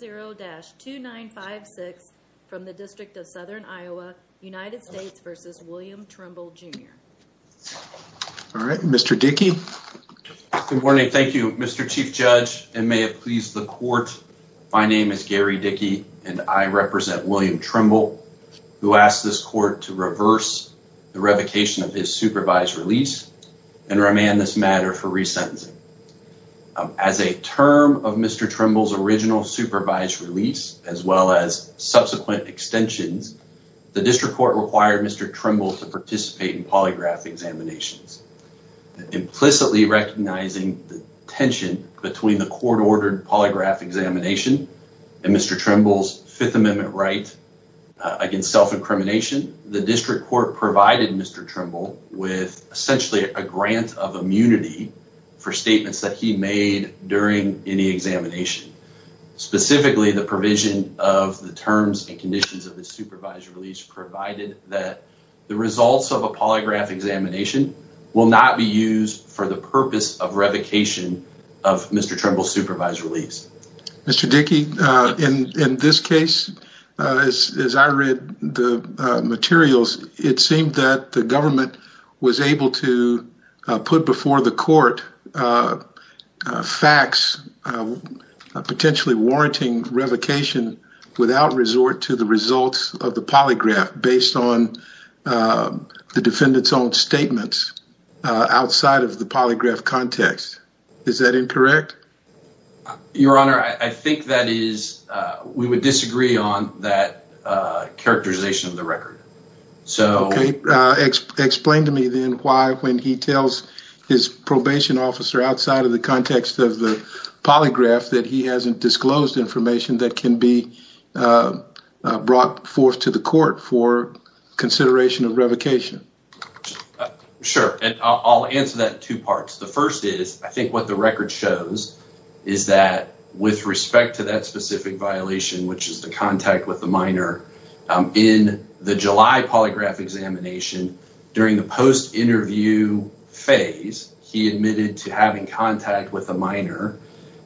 All right, Mr. Dickey. Good morning. Thank you, Mr. Chief Judge, and may it please the court. My name is Gary Dickey, and I represent William Trimble, who asked this court to reverse the revocation of his supervised release and remand this matter for resentencing. As a well as subsequent extensions, the district court required Mr. Trimble to participate in polygraph examinations. Implicitly recognizing the tension between the court-ordered polygraph examination and Mr. Trimble's Fifth Amendment right against self-incrimination, the district court provided Mr. Trimble with essentially a grant of immunity for statements that he made during any examination. Specifically, the provision of the terms and conditions of the supervised release provided that the results of a polygraph examination will not be used for the purpose of revocation of Mr. Trimble's supervised release. Mr. Dickey, in this case, as I read the record, Mr. Trimble acts potentially warranting revocation without resort to the results of the polygraph based on the defendant's own statements outside of the polygraph context. Is that incorrect? Your Honor, I think that is, we would disagree on that characterization of the record. Explain to me then why when he tells his probation officer outside of the context of the polygraph that he hasn't disclosed information that can be brought forth to the court for consideration of revocation. Sure, I'll answer that in two parts. The first is, I think what the record shows is that with respect to that specific violation, which is the contact with the minor, in the July polygraph examination, during the post-interview phase, he admitted to having contact with the minor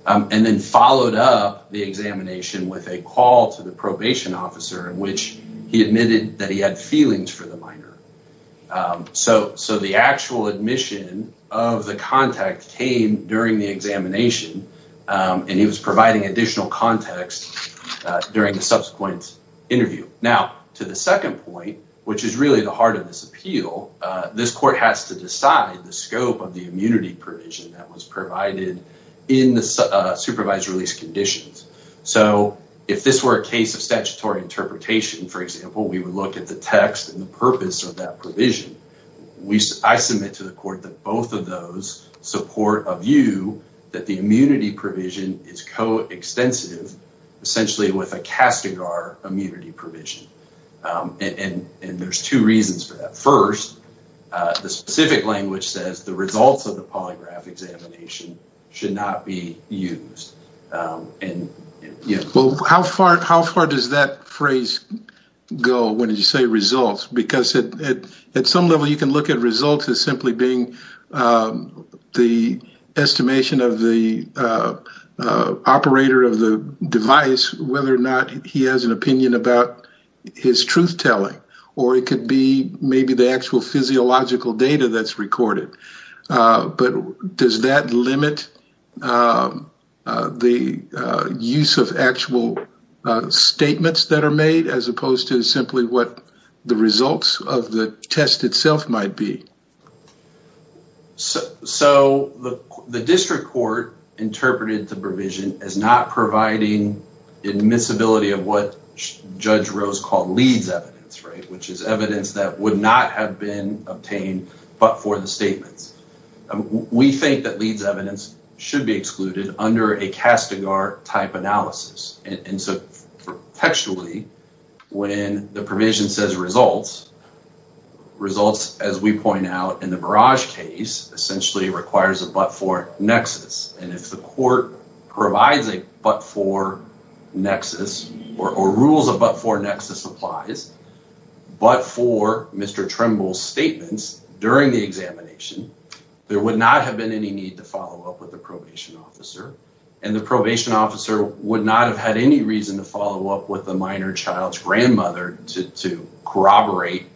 and then followed up the examination with a call to the probation officer in which he admitted that he had feelings for the minor. So the actual admission of the contact came during the post-interview phase and he was providing additional context during the subsequent interview. Now, to the second point, which is really the heart of this appeal, this court has to decide the scope of the immunity provision that was provided in the supervised release conditions. So if this were a case of statutory interpretation, for example, we would look at the text and the purpose of that provision is co-extensive, essentially with a CASTIGAR immunity provision. And there's two reasons for that. First, the specific language says the results of the polygraph examination should not be used. Well, how far does that phrase go when you say results? Because at some level, you can look at the results as simply being the estimation of the operator of the device, whether or not he has an opinion about his truth-telling. Or it could be maybe the actual physiological data that's recorded. But does that limit the use of actual statements that are made as opposed to simply what the results of the test itself might be? So the district court interpreted the provision as not providing admissibility of what Judge Rose called LEADS evidence, which is evidence that would not have been obtained but for the statements. We think that LEADS evidence should be excluded under a CASTIGAR type analysis. And so textually, when the provision says results, results, as we point out in the Barrage case, essentially requires a but-for nexus. And if the court provides a but-for nexus, or rules a but-for nexus applies, but for Mr. Tremble's statements during the examination, there would not have been any need to follow up with the probation officer. And the probation officer would not have had any reason to follow up with a minor child's grandmother to corroborate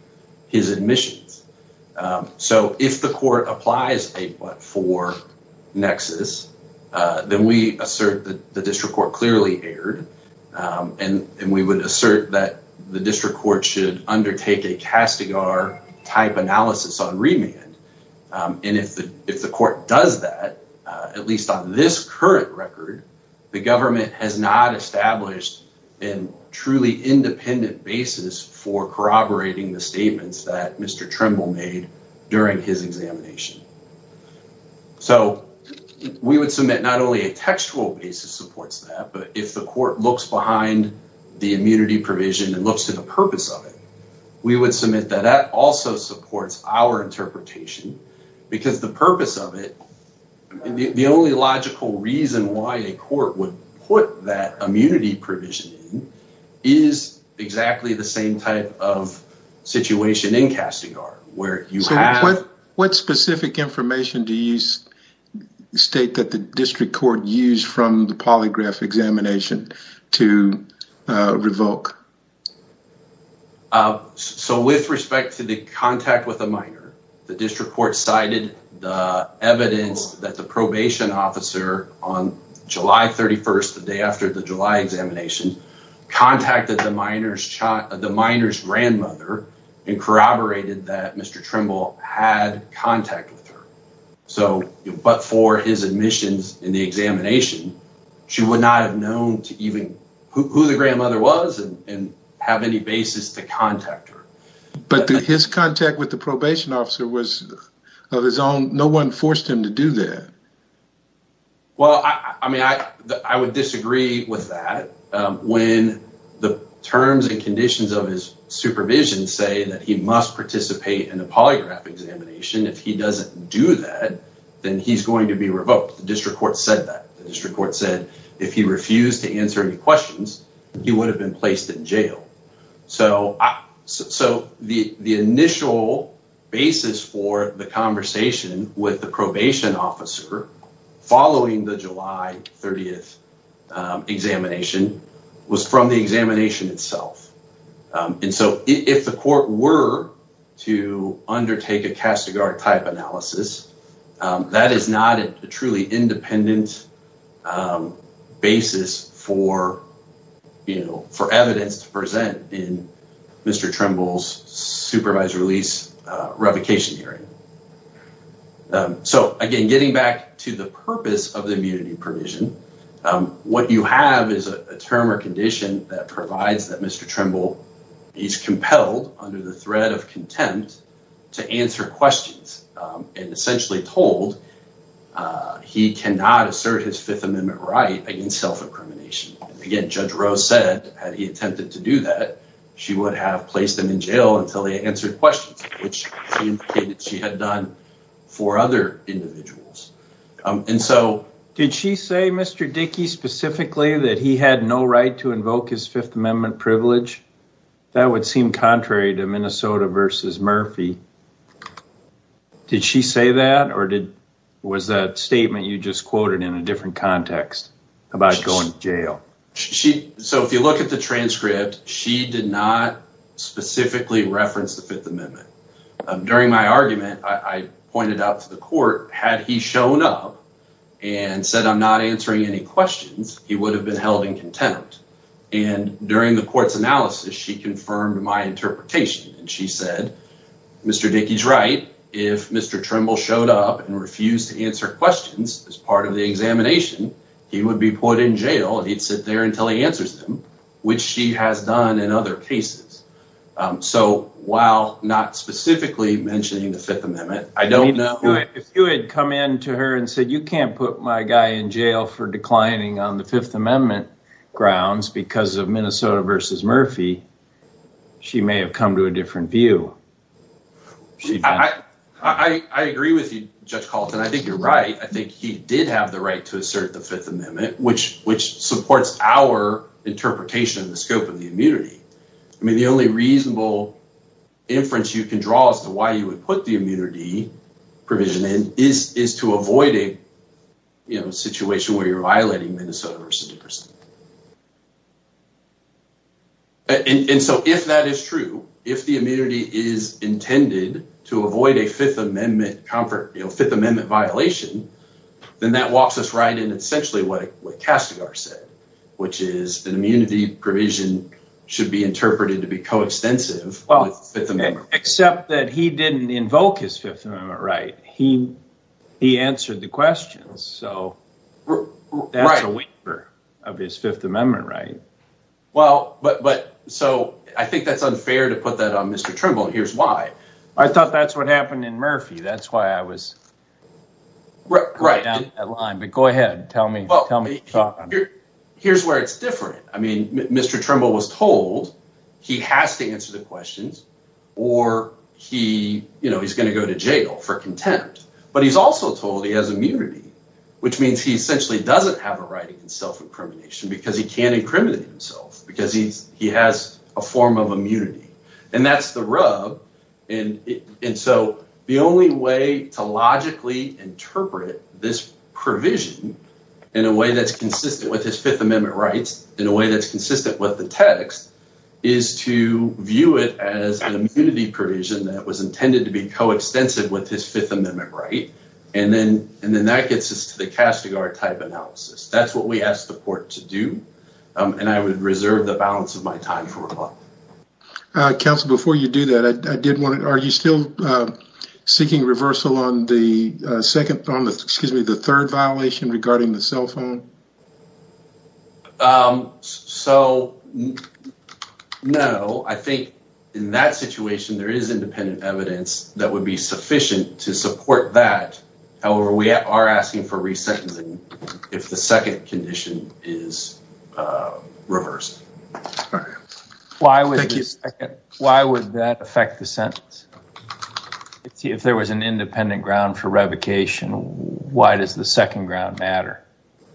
his admissions. So if the court applies a but-for nexus, then we assert that the district court clearly erred. And we would assert that the district court should undertake a CASTIGAR type analysis on remand. And if the court does that, at least on this current record, the government has not established a truly independent basis for corroborating the statements that Mr. Tremble made during his examination. So we would submit not only a textual basis supports that, but if the court looks behind the immunity provision and looks to the purpose of it, we would submit that that also supports our interpretation, because the only logical reason why a court would put that immunity provision in is exactly the same type of situation in CASTIGAR, where you have... So what specific information do you state that the district court used from the polygraph examination to revoke? So with respect to the contact with a minor, the district court cited the evidence that the probation officer on July 31st, the day after the July examination, contacted the minor's grandmother and corroborated that Mr. Tremble had contact with her. But for his contact with the probation officer was of his own. No one forced him to do that. Well, I mean, I would disagree with that. When the terms and conditions of his supervision say that he must participate in a polygraph examination, if he doesn't do that, then he's going to be revoked. The district court said that. The district court said if he refused to do that, he would have been placed in jail. So the initial basis for the conversation with the probation officer following the July 30th examination was from the examination itself. And so if the court were to undertake a CASTIGAR type analysis, that is not a truly independent basis for evidence to present in Mr. Tremble's supervised release revocation hearing. So again, getting back to the purpose of the immunity provision, what you have is a term or condition that provides that Mr. Tremble is able to assert his Fifth Amendment right against self-incrimination. Again, Judge Rose said, had he attempted to do that, she would have placed him in jail until they answered questions, which she indicated she had done for other individuals. And so did she say, Mr. Dickey, specifically, that he had no right to invoke his Fifth Amendment privilege? That would seem contrary to the different context about going to jail. So if you look at the transcript, she did not specifically reference the Fifth Amendment. During my argument, I pointed out to the court, had he shown up and said, I'm not answering any questions, he would have been held in contempt. And during the court's analysis, she confirmed my interpretation. And she said, Mr. Dickey's right. If Mr. Tremble showed up and refused to answer questions as part of the examination, he would be put in jail and he'd sit there until he answers them, which she has done in other cases. So while not specifically mentioning the Fifth Amendment, I don't know. If you had come in to her and said, you can't put my guy in jail for declining on the Fifth Amendment grounds because of Minnesota versus Murphy, she may have come to a conclusion. I agree with you, Judge Calton. I think you're right. I think he did have the right to assert the Fifth Amendment, which supports our interpretation of the scope of the immunity. I mean, the only reasonable inference you can draw as to why you would put the immunity provision in is to avoid a situation where you're violating Minnesota versus New Jersey. And so if that is true, if the immunity is intended to avoid a Fifth Amendment violation, then that walks us right in essentially what Castigar said, which is an immunity provision should be interpreted to be coextensive with the Fifth Amendment. Except that he didn't invoke his Fifth Amendment right. He answered the questions. So that's a waiver of his Fifth Amendment right. Well, but so I think that's unfair to put that on Mr. Trimble. Here's why. I thought that's what happened in Murphy. That's why I was going down that line. But go ahead. Tell me. Well, here's where it's different. I mean, Mr. Trimble was told he has to answer the questions or he's going to go to jail for contempt. But he's also told he has immunity, which means he essentially doesn't have a right to self-incrimination because he can't incriminate himself because he has a form of immunity. And that's the rub. And so the only way to logically interpret this provision in a way that's consistent with his Fifth Amendment rights, in a way that's consistent with the text, is to view it as an immunity provision that was intended to be coextensive with his Fifth Amendment right. And then and then that gets us to the Castigar type analysis. That's what we asked the court to do. And I would reserve the balance of my time for a while. Counsel, before you do that, I did want to know, are you still seeking reversal on the second, excuse me, the third violation regarding the cell phone? So, no, I think in that situation there is independent evidence that would be sufficient to support that. However, we are asking for re-sentencing if the second condition is reversed. All right. Thank you. Why would that affect the sentence? If there was an independent ground for revocation, why does the second ground matter?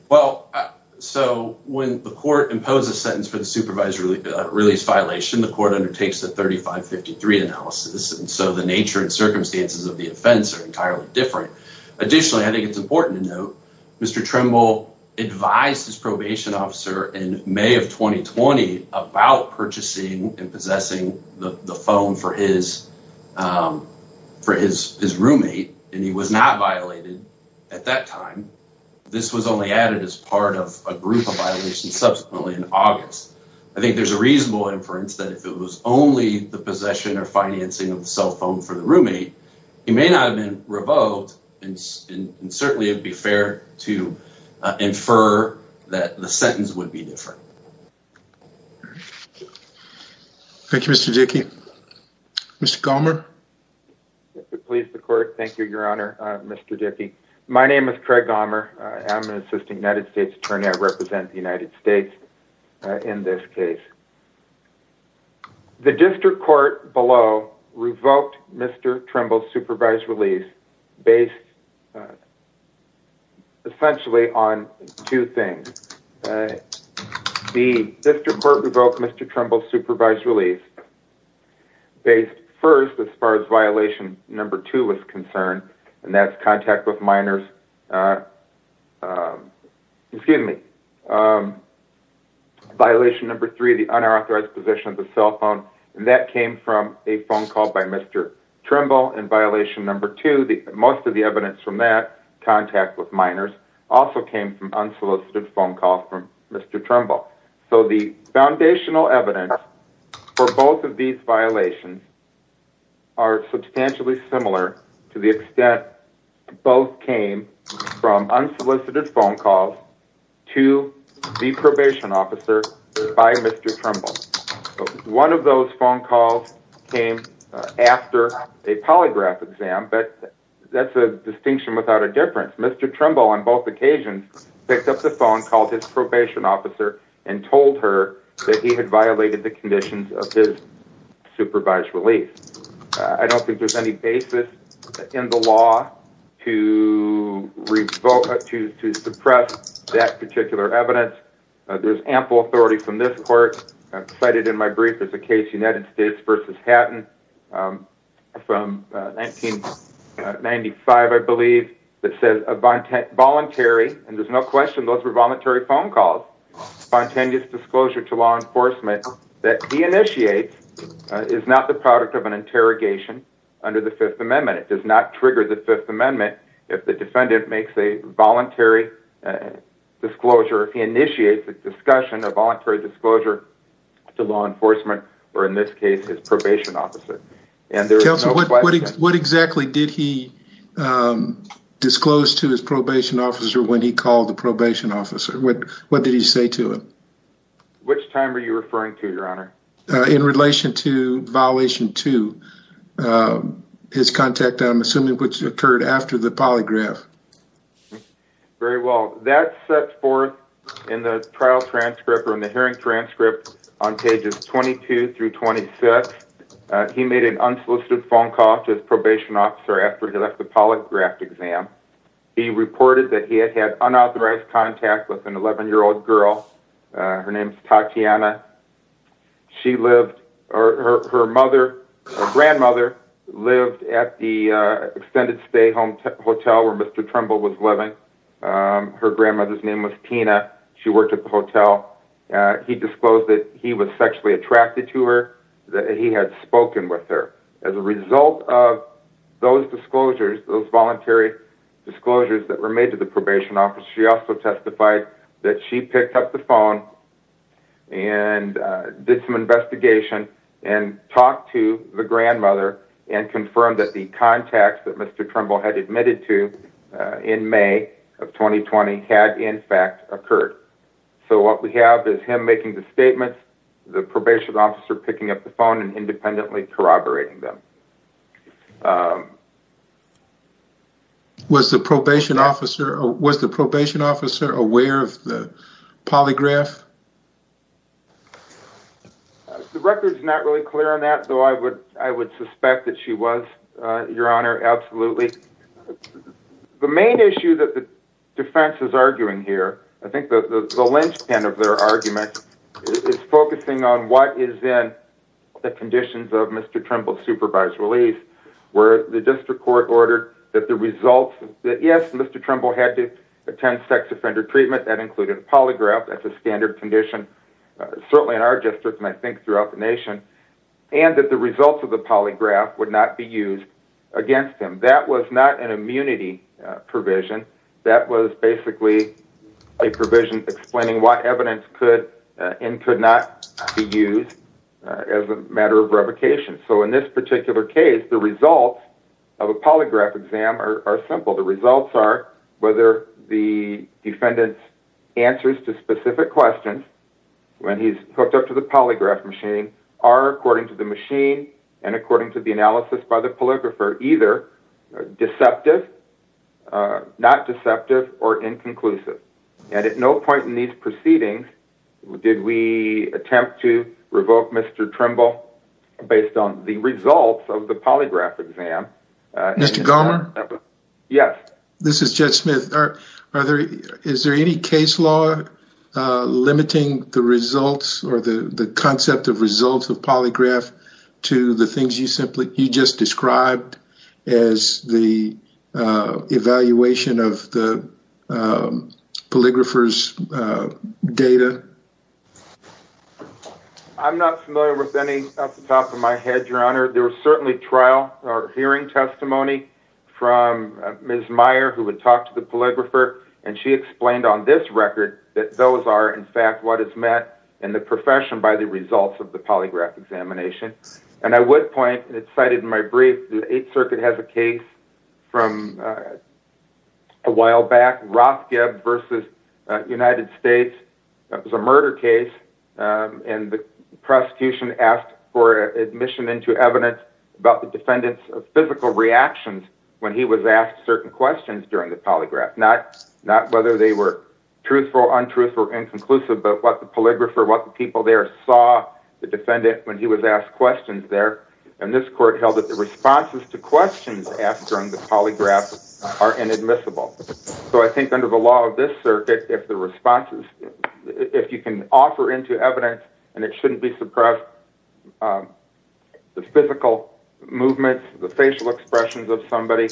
Well, so when the court imposes a sentence for the supervised release violation, the court undertakes the 3553 analysis. And so the nature and circumstances of the offense are entirely different. Additionally, I think it's important to note, Mr. Trimble advised his probation officer in May of 2020 about purchasing and possessing the phone for his roommate. And he was not violated at that time. This was only added as part of a group of violations subsequently in August. I think there's a reasonable inference that if it was only the possession or financing of the cell phone for the roommate, he may not have been revoked. And certainly it would be fair to infer that the sentence would be different. Thank you, Mr. Dickey. Mr. Gommer. Please, the court. Thank you, Your Honor. Mr. Dickey. My name is Craig Gommer. I'm an assistant United States attorney. I represent the United States in this case. The district court below revoked Mr. Trimble's supervised release based essentially on two things. The district court revoked Mr. Trimble's supervised release based first as far as violation number two was concerned, and that's contact with minors excuse me, violation number three, the unauthorized possession of the cell phone, and that came from a phone call by Mr. Trimble, and violation number two, most of the evidence from that, contact with minors, also came from unsolicited phone calls from Mr. Trimble. So the foundational evidence for both of these violations are substantially similar to the extent that both came from unsolicited phone calls to the probation officer by Mr. Trimble. One of those phone calls came after a polygraph exam, but that's a distinction without a difference. Mr. Trimble on both occasions picked up the phone, called his probation officer, and told her that he had violated the conditions of his supervised release. I don't think there's any basis in the law to revoke, to suppress that particular evidence. There's ample authority from this court. I've cited in my brief as a case United States versus Hatton from 1995, I believe, that says a voluntary, and there's no question those were voluntary phone calls, spontaneous disclosure to law enforcement that he initiates is not the product of an interrogation under the Fifth Amendment. It does not trigger the Fifth Amendment if the defendant makes a voluntary disclosure, if he initiates a discussion, a voluntary disclosure to law enforcement, or in this case his probation officer. And there's no question. Counselor, what exactly did he disclose to his probation officer when he called the probation officer? What did he say to him? Which time are you referring to, your honor? In relation to violation two, his contact, I'm assuming, which occurred after the polygraph. Very well. That's set forth in the trial transcript or in the hearing transcript on pages 22 through 26. He made an unsolicited phone call to his probation officer after he left the polygraphed exam. He reported that he had had unauthorized contact with an 11-year-old girl her name's Tatiana. She lived, or her mother, her grandmother, lived at the extended stay home hotel where Mr. Trimble was living. Her grandmother's name was Tina. She worked at the hotel. He disclosed that he was sexually attracted to her, that he had spoken with her. As a result of those disclosures, those voluntary disclosures that were made to the probation officer, she also testified that she picked up the phone and did some investigation and talked to the grandmother and confirmed that the contacts that Mr. Trimble had admitted to in May of 2020 had in fact occurred. So what we have is him making the statements, the probation officer picking up the phone, and independently corroborating them. Was the probation officer aware of the polygraph? The record is not really clear on that, though I would suspect that she was, Your Honor, absolutely. The main issue that the defense is arguing here, I think the linchpin of their argument, is focusing on what is in the conditions of Mr. Trimble's supervised release, where the district court ordered that the results that, yes, Mr. Trimble had to attend sex offender treatment, that included polygraph, that's a standard condition, certainly in our district, and I think throughout the nation, and that the results of the polygraph would not be used against him. That was not an immunity provision. That was basically a provision explaining what evidence could and could not be used as a matter of revocation. So in this particular case, the results of a polygraph exam are simple. The results are whether the defendant's answers to specific questions, when he's hooked up to the polygraph machine, are according to the machine and according to the analysis by the polygrapher either deceptive, not deceptive, or inconclusive. And at no point in these proceedings did we attempt to revoke Mr. Trimble based on the results of the polygraph exam. Mr. Gomer? Yes, this is Judge Smith. Are there, is there any case law limiting the results or the the concept of results of polygraph to the things you simply, you just described as the evaluation of the polygrapher's data? I'm not familiar with any off the top of my head, Your Honor. There was certainly trial or hearing testimony from Ms. Meyer who would talk to the polygrapher, and she explained on this record that those are in fact what is met in the profession by the results of the polygraph examination. And I would point, and it's cited in my brief, the Eighth Circuit has a case from a United States. It was a murder case, and the prosecution asked for admission into evidence about the defendant's physical reactions when he was asked certain questions during the polygraph. Not, not whether they were truthful, untruthful, inconclusive, but what the polygrapher, what the people there saw the defendant when he was asked questions there. And this court held that the responses to questions asked during the polygraph are inadmissible. So I think under the law of this circuit, if the responses, if you can offer into evidence, and it shouldn't be suppressed, the physical movements, the facial expressions of somebody,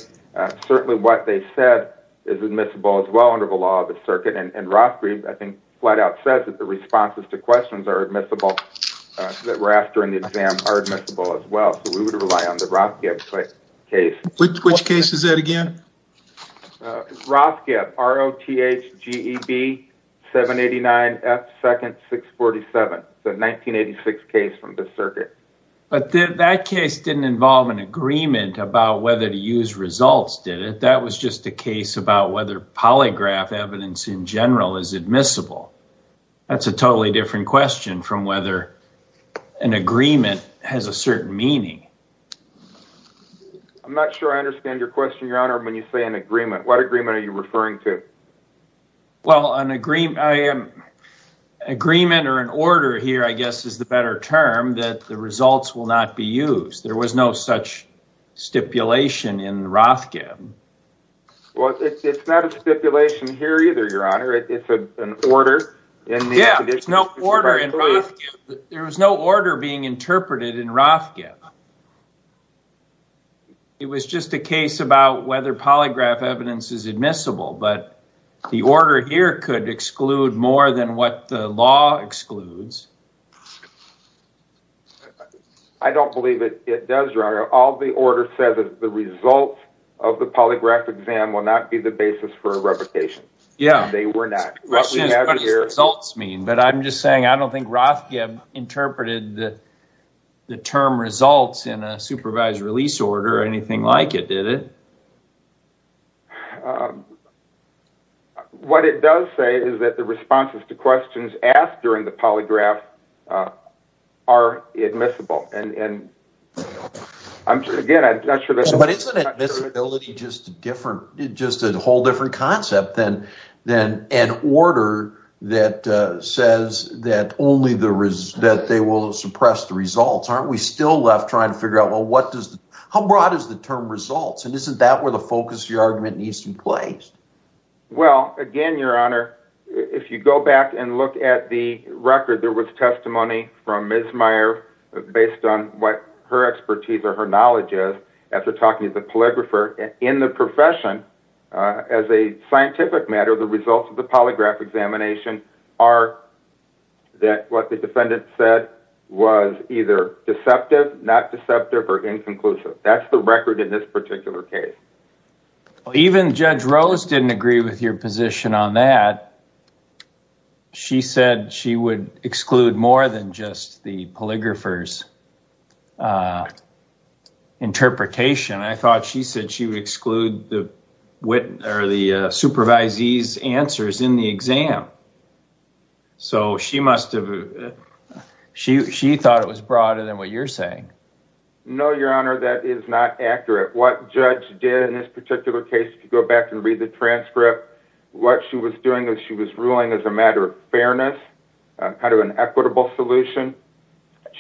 certainly what they said is admissible as well under the law of the circuit. And Rothgreave, I think, flat-out says that the responses to questions are admissible, that were asked during the exam are admissible as well. So we would rely on the Rothgreave case. Which case is that again? Rothgreave, R-O-T-H-G-E-B-789-F-2nd-647. The 1986 case from the circuit. But that case didn't involve an agreement about whether to use results, did it? That was just a case about whether polygraph evidence in general is admissible. That's a totally different question from whether an agreement has a certain meaning. I'm not sure I understand your question, Your Honor, when you say an agreement. What agreement are you referring to? Well, an agreement, I am... Agreement or an order here, I guess, is the better term, that the results will not be used. There was no such stipulation in Rothgreave. Well, it's not a stipulation here either, Your Honor. It's an order. There was no order being interpreted in Rothgreave. It was just a case about whether polygraph evidence is admissible, but the order here could exclude more than what the law excludes. I don't believe it does, Your Honor. All the order says is the results of the polygraph exam will not be the basis for a reputation. Yeah. They were not. What does results mean? But I'm just saying, I don't think Rothgreave interpreted that the term results in a supervised release order or anything like it, did it? What it does say is that the responses to questions asked during the polygraph are admissible and I'm sure, again, I'm not sure... But isn't admissibility just a whole different concept than an order that says that they will suppress the results? Aren't we still left trying to figure out, well, how broad is the term results? And isn't that where the focus of your argument needs to be placed? Well, again, Your Honor, if you go back and look at the record, there was testimony from Ms. Meyer based on what her expertise or her knowledge is, after talking to the polygrapher, in the profession, as a scientific matter, the results of the polygraph examination are that what the defendant said was either deceptive, not deceptive, or inconclusive. That's the record in this particular case. Even Judge Rose didn't agree with your position on that. She said she would exclude more than just the polygrapher's interpretation. I thought she said she would exclude the supervisee's answers in the exam. So she must have... She thought it was broader than what you're saying. No, Your Honor, that is not accurate. What Judge did in this particular case, if you go back and read the transcript, what she was doing is she was ruling as a matter of fairness, kind of an equitable solution.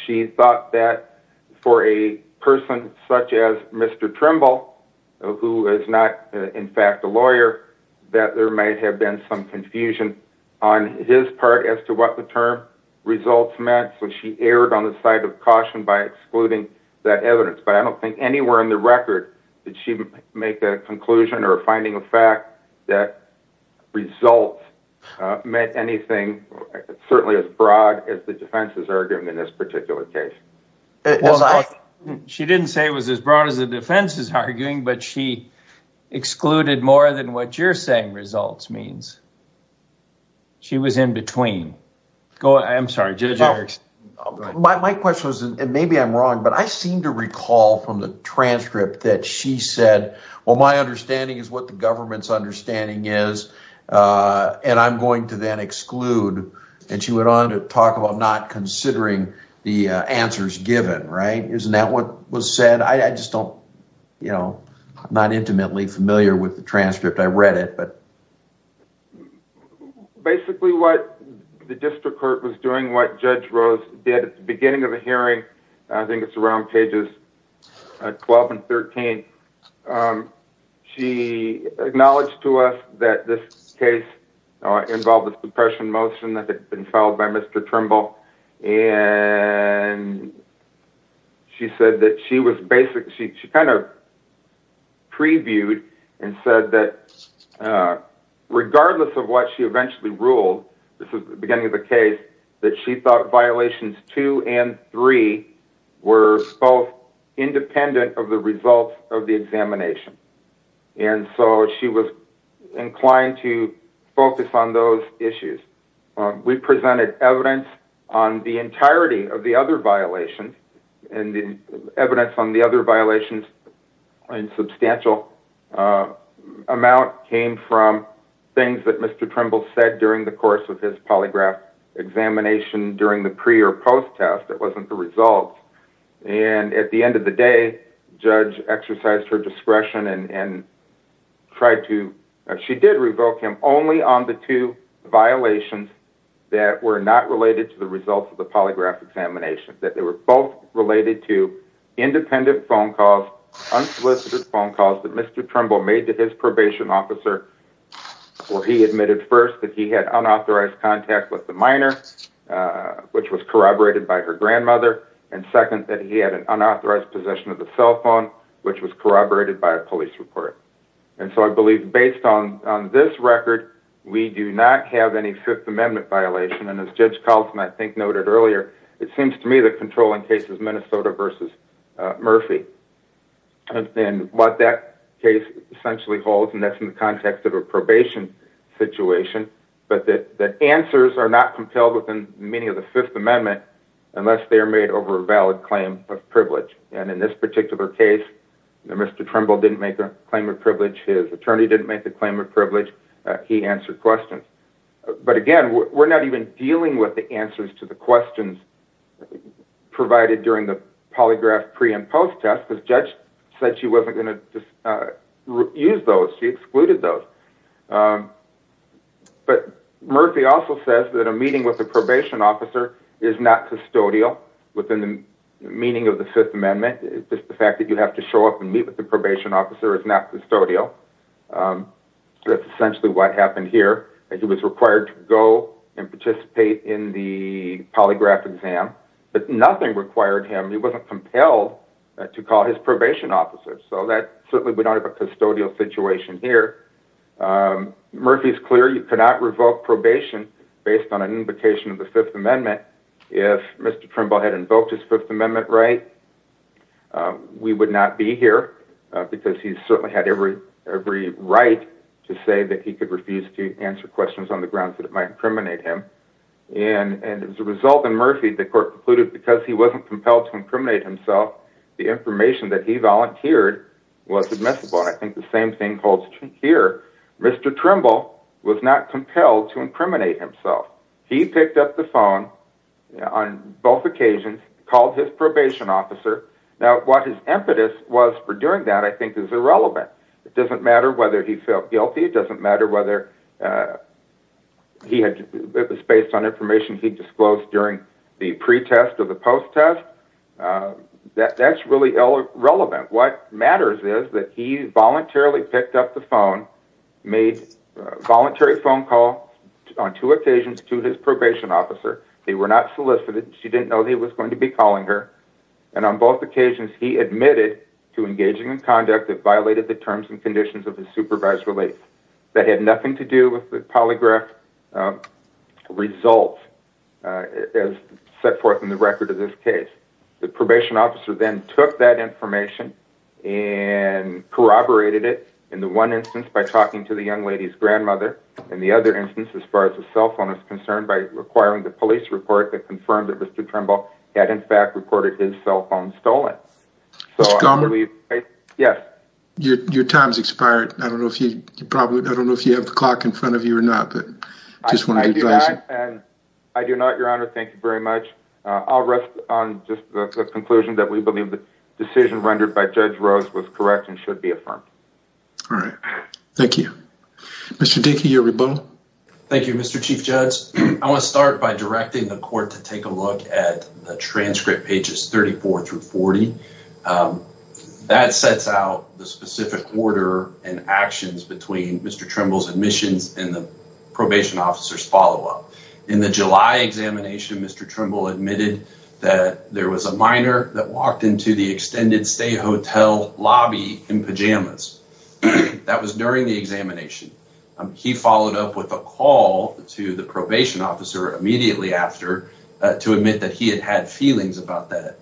She thought that for a person such as Mr. Trimble, who is not, in fact, a lawyer, that there might have been some confusion on his part as to what the term results meant, so she erred on the side of caution by excluding that evidence. But I don't think anywhere in the record did she make a conclusion or a finding of fact that results meant anything, certainly as broad as the defense's argument in this particular case. She didn't say it was as broad as the defense's arguing, but she excluded more than what you're saying results means. She was in between. Go ahead. I'm sorry, Judge Erickson. My question was, and maybe I'm wrong, but I seem to recall from the transcript that she said, well, my understanding is what the government's understanding is, and I'm going to then exclude, and she went on to talk about not considering the answers given, right? Isn't that what was said? I just don't, you know, I'm not intimately familiar with the transcript. I read it, but... Basically, what the district court was doing, what Judge Rose did at the beginning of the hearing, I think it's around pages 12 and 13, she acknowledged to us that this case involved a suppression motion that had been filed by Mr. Trimble, and she said that she was basically, she kind of previewed and said that regardless of what she eventually ruled, this is the beginning of the case, that she thought violations two and three were both independent of the results of the examination, and so she was inclined to focus on those issues. We presented evidence on the entirety of the other violations, and the evidence on the other violations in substantial amount came from things that Mr. Trimble said during the course of his polygraph examination during the pre- or post-test. It wasn't the results, and at the end of the day, Judge exercised her discretion and tried to, she did revoke him only on the two violations that were not related to the results of the polygraph examination, that they were both related to independent phone calls, unsolicited phone calls that Mr. Trimble made to his probation officer where he admitted first that he had unauthorized contact with the minor, which was corroborated by her grandmother, and second that he had an unauthorized possession of the cell phone, which was corroborated by a police report. And so I believe based on this record, we do not have any Fifth Amendment violation, and as Judge Kaltzman, I think, noted earlier, it seems to me that controlling cases Minnesota versus Murphy. And what that case essentially holds, and that's in the context of a probation situation, but that the answers are not compelled within the meaning of the Fifth Amendment unless they are made over a valid claim of privilege. And in this particular case, Mr. Trimble didn't make a claim of privilege. His attorney didn't make the claim of privilege. He answered questions. But again, we're not even dealing with the answers to the questions provided during the polygraph pre and post test, because Judge said she wasn't going to use those. She excluded those. But Murphy also says that a meeting with the probation officer is not custodial within the meaning of the Fifth Amendment. It's just the fact that you have to show up and meet with the probation officer is not custodial. That's essentially what happened here. He was required to go and participate in the polygraph exam. But nothing required him. He wasn't compelled to call his probation officer. So that certainly we don't have a custodial situation here. Murphy's clear you cannot revoke probation based on an invocation of the Fifth Amendment. If Mr. Trimble had invoked his Fifth Amendment right, we would not be here, because he certainly had every right to say that he could refuse to answer questions on the grounds that it might incriminate him. And as a result in Murphy, the court concluded because he wasn't compelled to incriminate himself, the information that he volunteered was admissible. I think the same thing holds true here. Mr. Trimble was not compelled to incriminate himself. He picked up the phone on both occasions, called his probation officer. Now, what his impetus was for doing that, I think, is irrelevant. It doesn't matter whether he felt guilty. It doesn't matter whether it was based on information he disclosed during the pre-test or the post-test. That's really irrelevant. What matters is that he voluntarily picked up the phone, made a voluntary phone call on two occasions to his probation officer. They were not solicited. She didn't know he was going to be calling her. And on both occasions, he admitted to engaging in conduct that violated the terms and conditions of his supervised release. That had nothing to do with the polygraph results as set forth in the record of this case. The probation officer then took that information and corroborated it in the one instance by talking to the young lady's grandmother, and the other instance, as far as the cell phone is concerned, by requiring the police report that confirmed that Mr. Trimble had in fact reported his cell phone stolen. So I believe, yes. Your time's expired. I don't know if you probably, I don't know if you have the clock in front of you or not, but I just wanted to advise you. I do not, Your Honor. Thank you very much. I'll rest on just the conclusion that we believe the decision rendered by Judge Rose was correct and should be affirmed. All right. Thank you. Mr. Dickey, you're rebuttal. Thank you, Mr. Chief Judge. I want to start by directing the court to take a look at the transcript pages 34 through 40. That sets out the specific order and actions between Mr. Trimble's admissions and the probation officer's follow-up. In the July examination, Mr. Trimble admitted that there was a minor that walked into the extended stay hotel lobby in pajamas. That was during the examination. He followed up with a call to the probation officer immediately after to admit that he had had feelings about that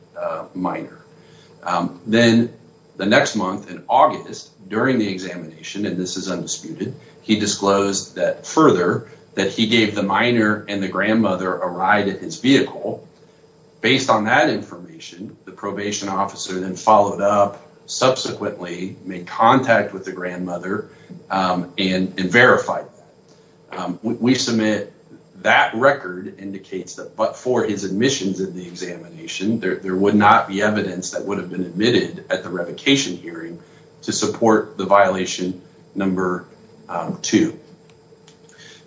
minor. Then the next month, in August, during the examination, and this is undisputed, he disclosed that further, that he gave the minor and the grandmother a ride in his vehicle. Based on that information, the probation officer then followed up, subsequently made contact with the grandmother and verified. We submit that record indicates that, but for his admissions in the examination, there would not be evidence that would have been admitted at the revocation hearing to support the violation number two.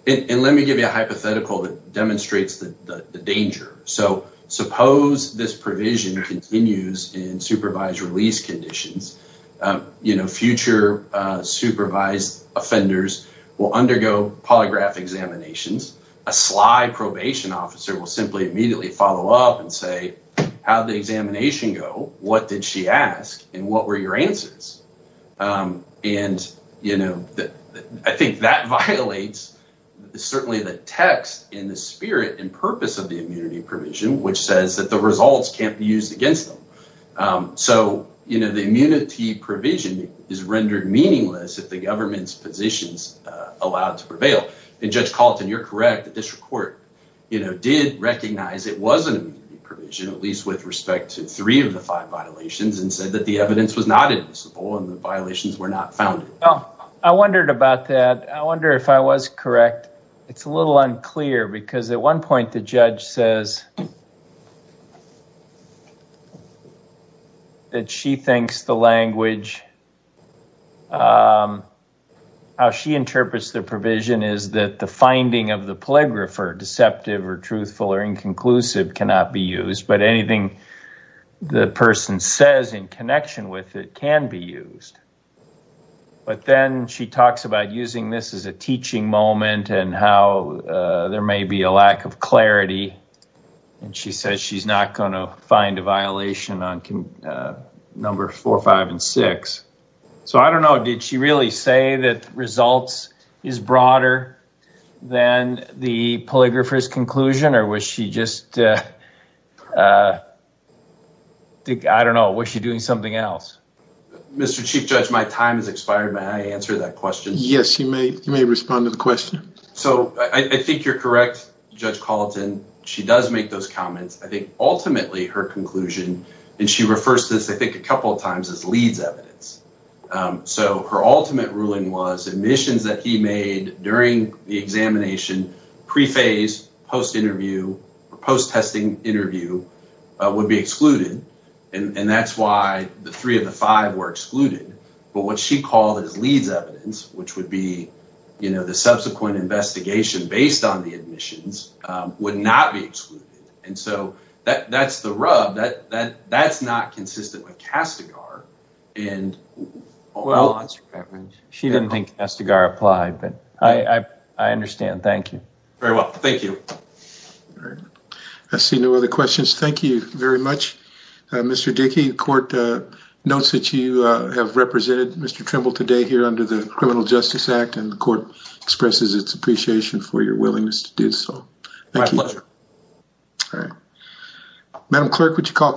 And let me give you a hypothetical that demonstrates the danger. So suppose this provision continues in supervised release conditions, you know, future supervised offenders will undergo polygraph examinations. A sly probation officer will simply immediately follow up and say, how did the examination go? What did she ask and what were your answers? And, you know, I think that violates certainly the text in the spirit and purpose of the immunity provision, which says that the results can't be used against them. So, you know, the immunity provision is rendered meaningless if the government's positions allowed to prevail. And Judge Calton, you're correct, the district court, you know, did recognize it was an immunity provision, at least with respect to three of the five violations, and said that the evidence was not admissible and the violations were not founded. I wondered about that. I wonder if I was correct. It's a little unclear because at one point the judge says that she thinks the language, how she interprets the provision is that the finding of the polygrapher, deceptive or truthful or inconclusive, cannot be used, but anything the person says in connection with it can be used. But then she talks about using this as a teaching moment and how there may be a lack of clarity. And she says she's not going to find a violation on number four, five, and six. So, I don't know, did she really say that results is broader than the polygrapher's conclusion or was she just, I don't know, was she doing something else? Mr. Chief Judge, my time has expired. May I answer that question? Yes, you may. You may respond to the question. So I think you're correct, Judge Calton. She does make those comments. I think ultimately her conclusion, and she refers to this, I think, a couple of times as Leeds evidence. So her ultimate ruling was admissions that he made during the examination, pre-phase, post-interview, post-testing interview would be excluded. And that's why the three of the five were excluded. But what she called as Leeds evidence, which would be the subsequent investigation based on the admissions, would not be excluded. And so that's the rub, that that's not consistent with Castigar. And she didn't think Castigar applied, but I understand. Thank you. Very well. Thank you. I see no other questions. Thank you very much, Mr. Dickey. Court notes that you have represented Mr. Trimble today here under the Criminal Justice Act, and the court expresses its appreciation for your willingness to do so. My pleasure. All right. Madam clerk, would you call.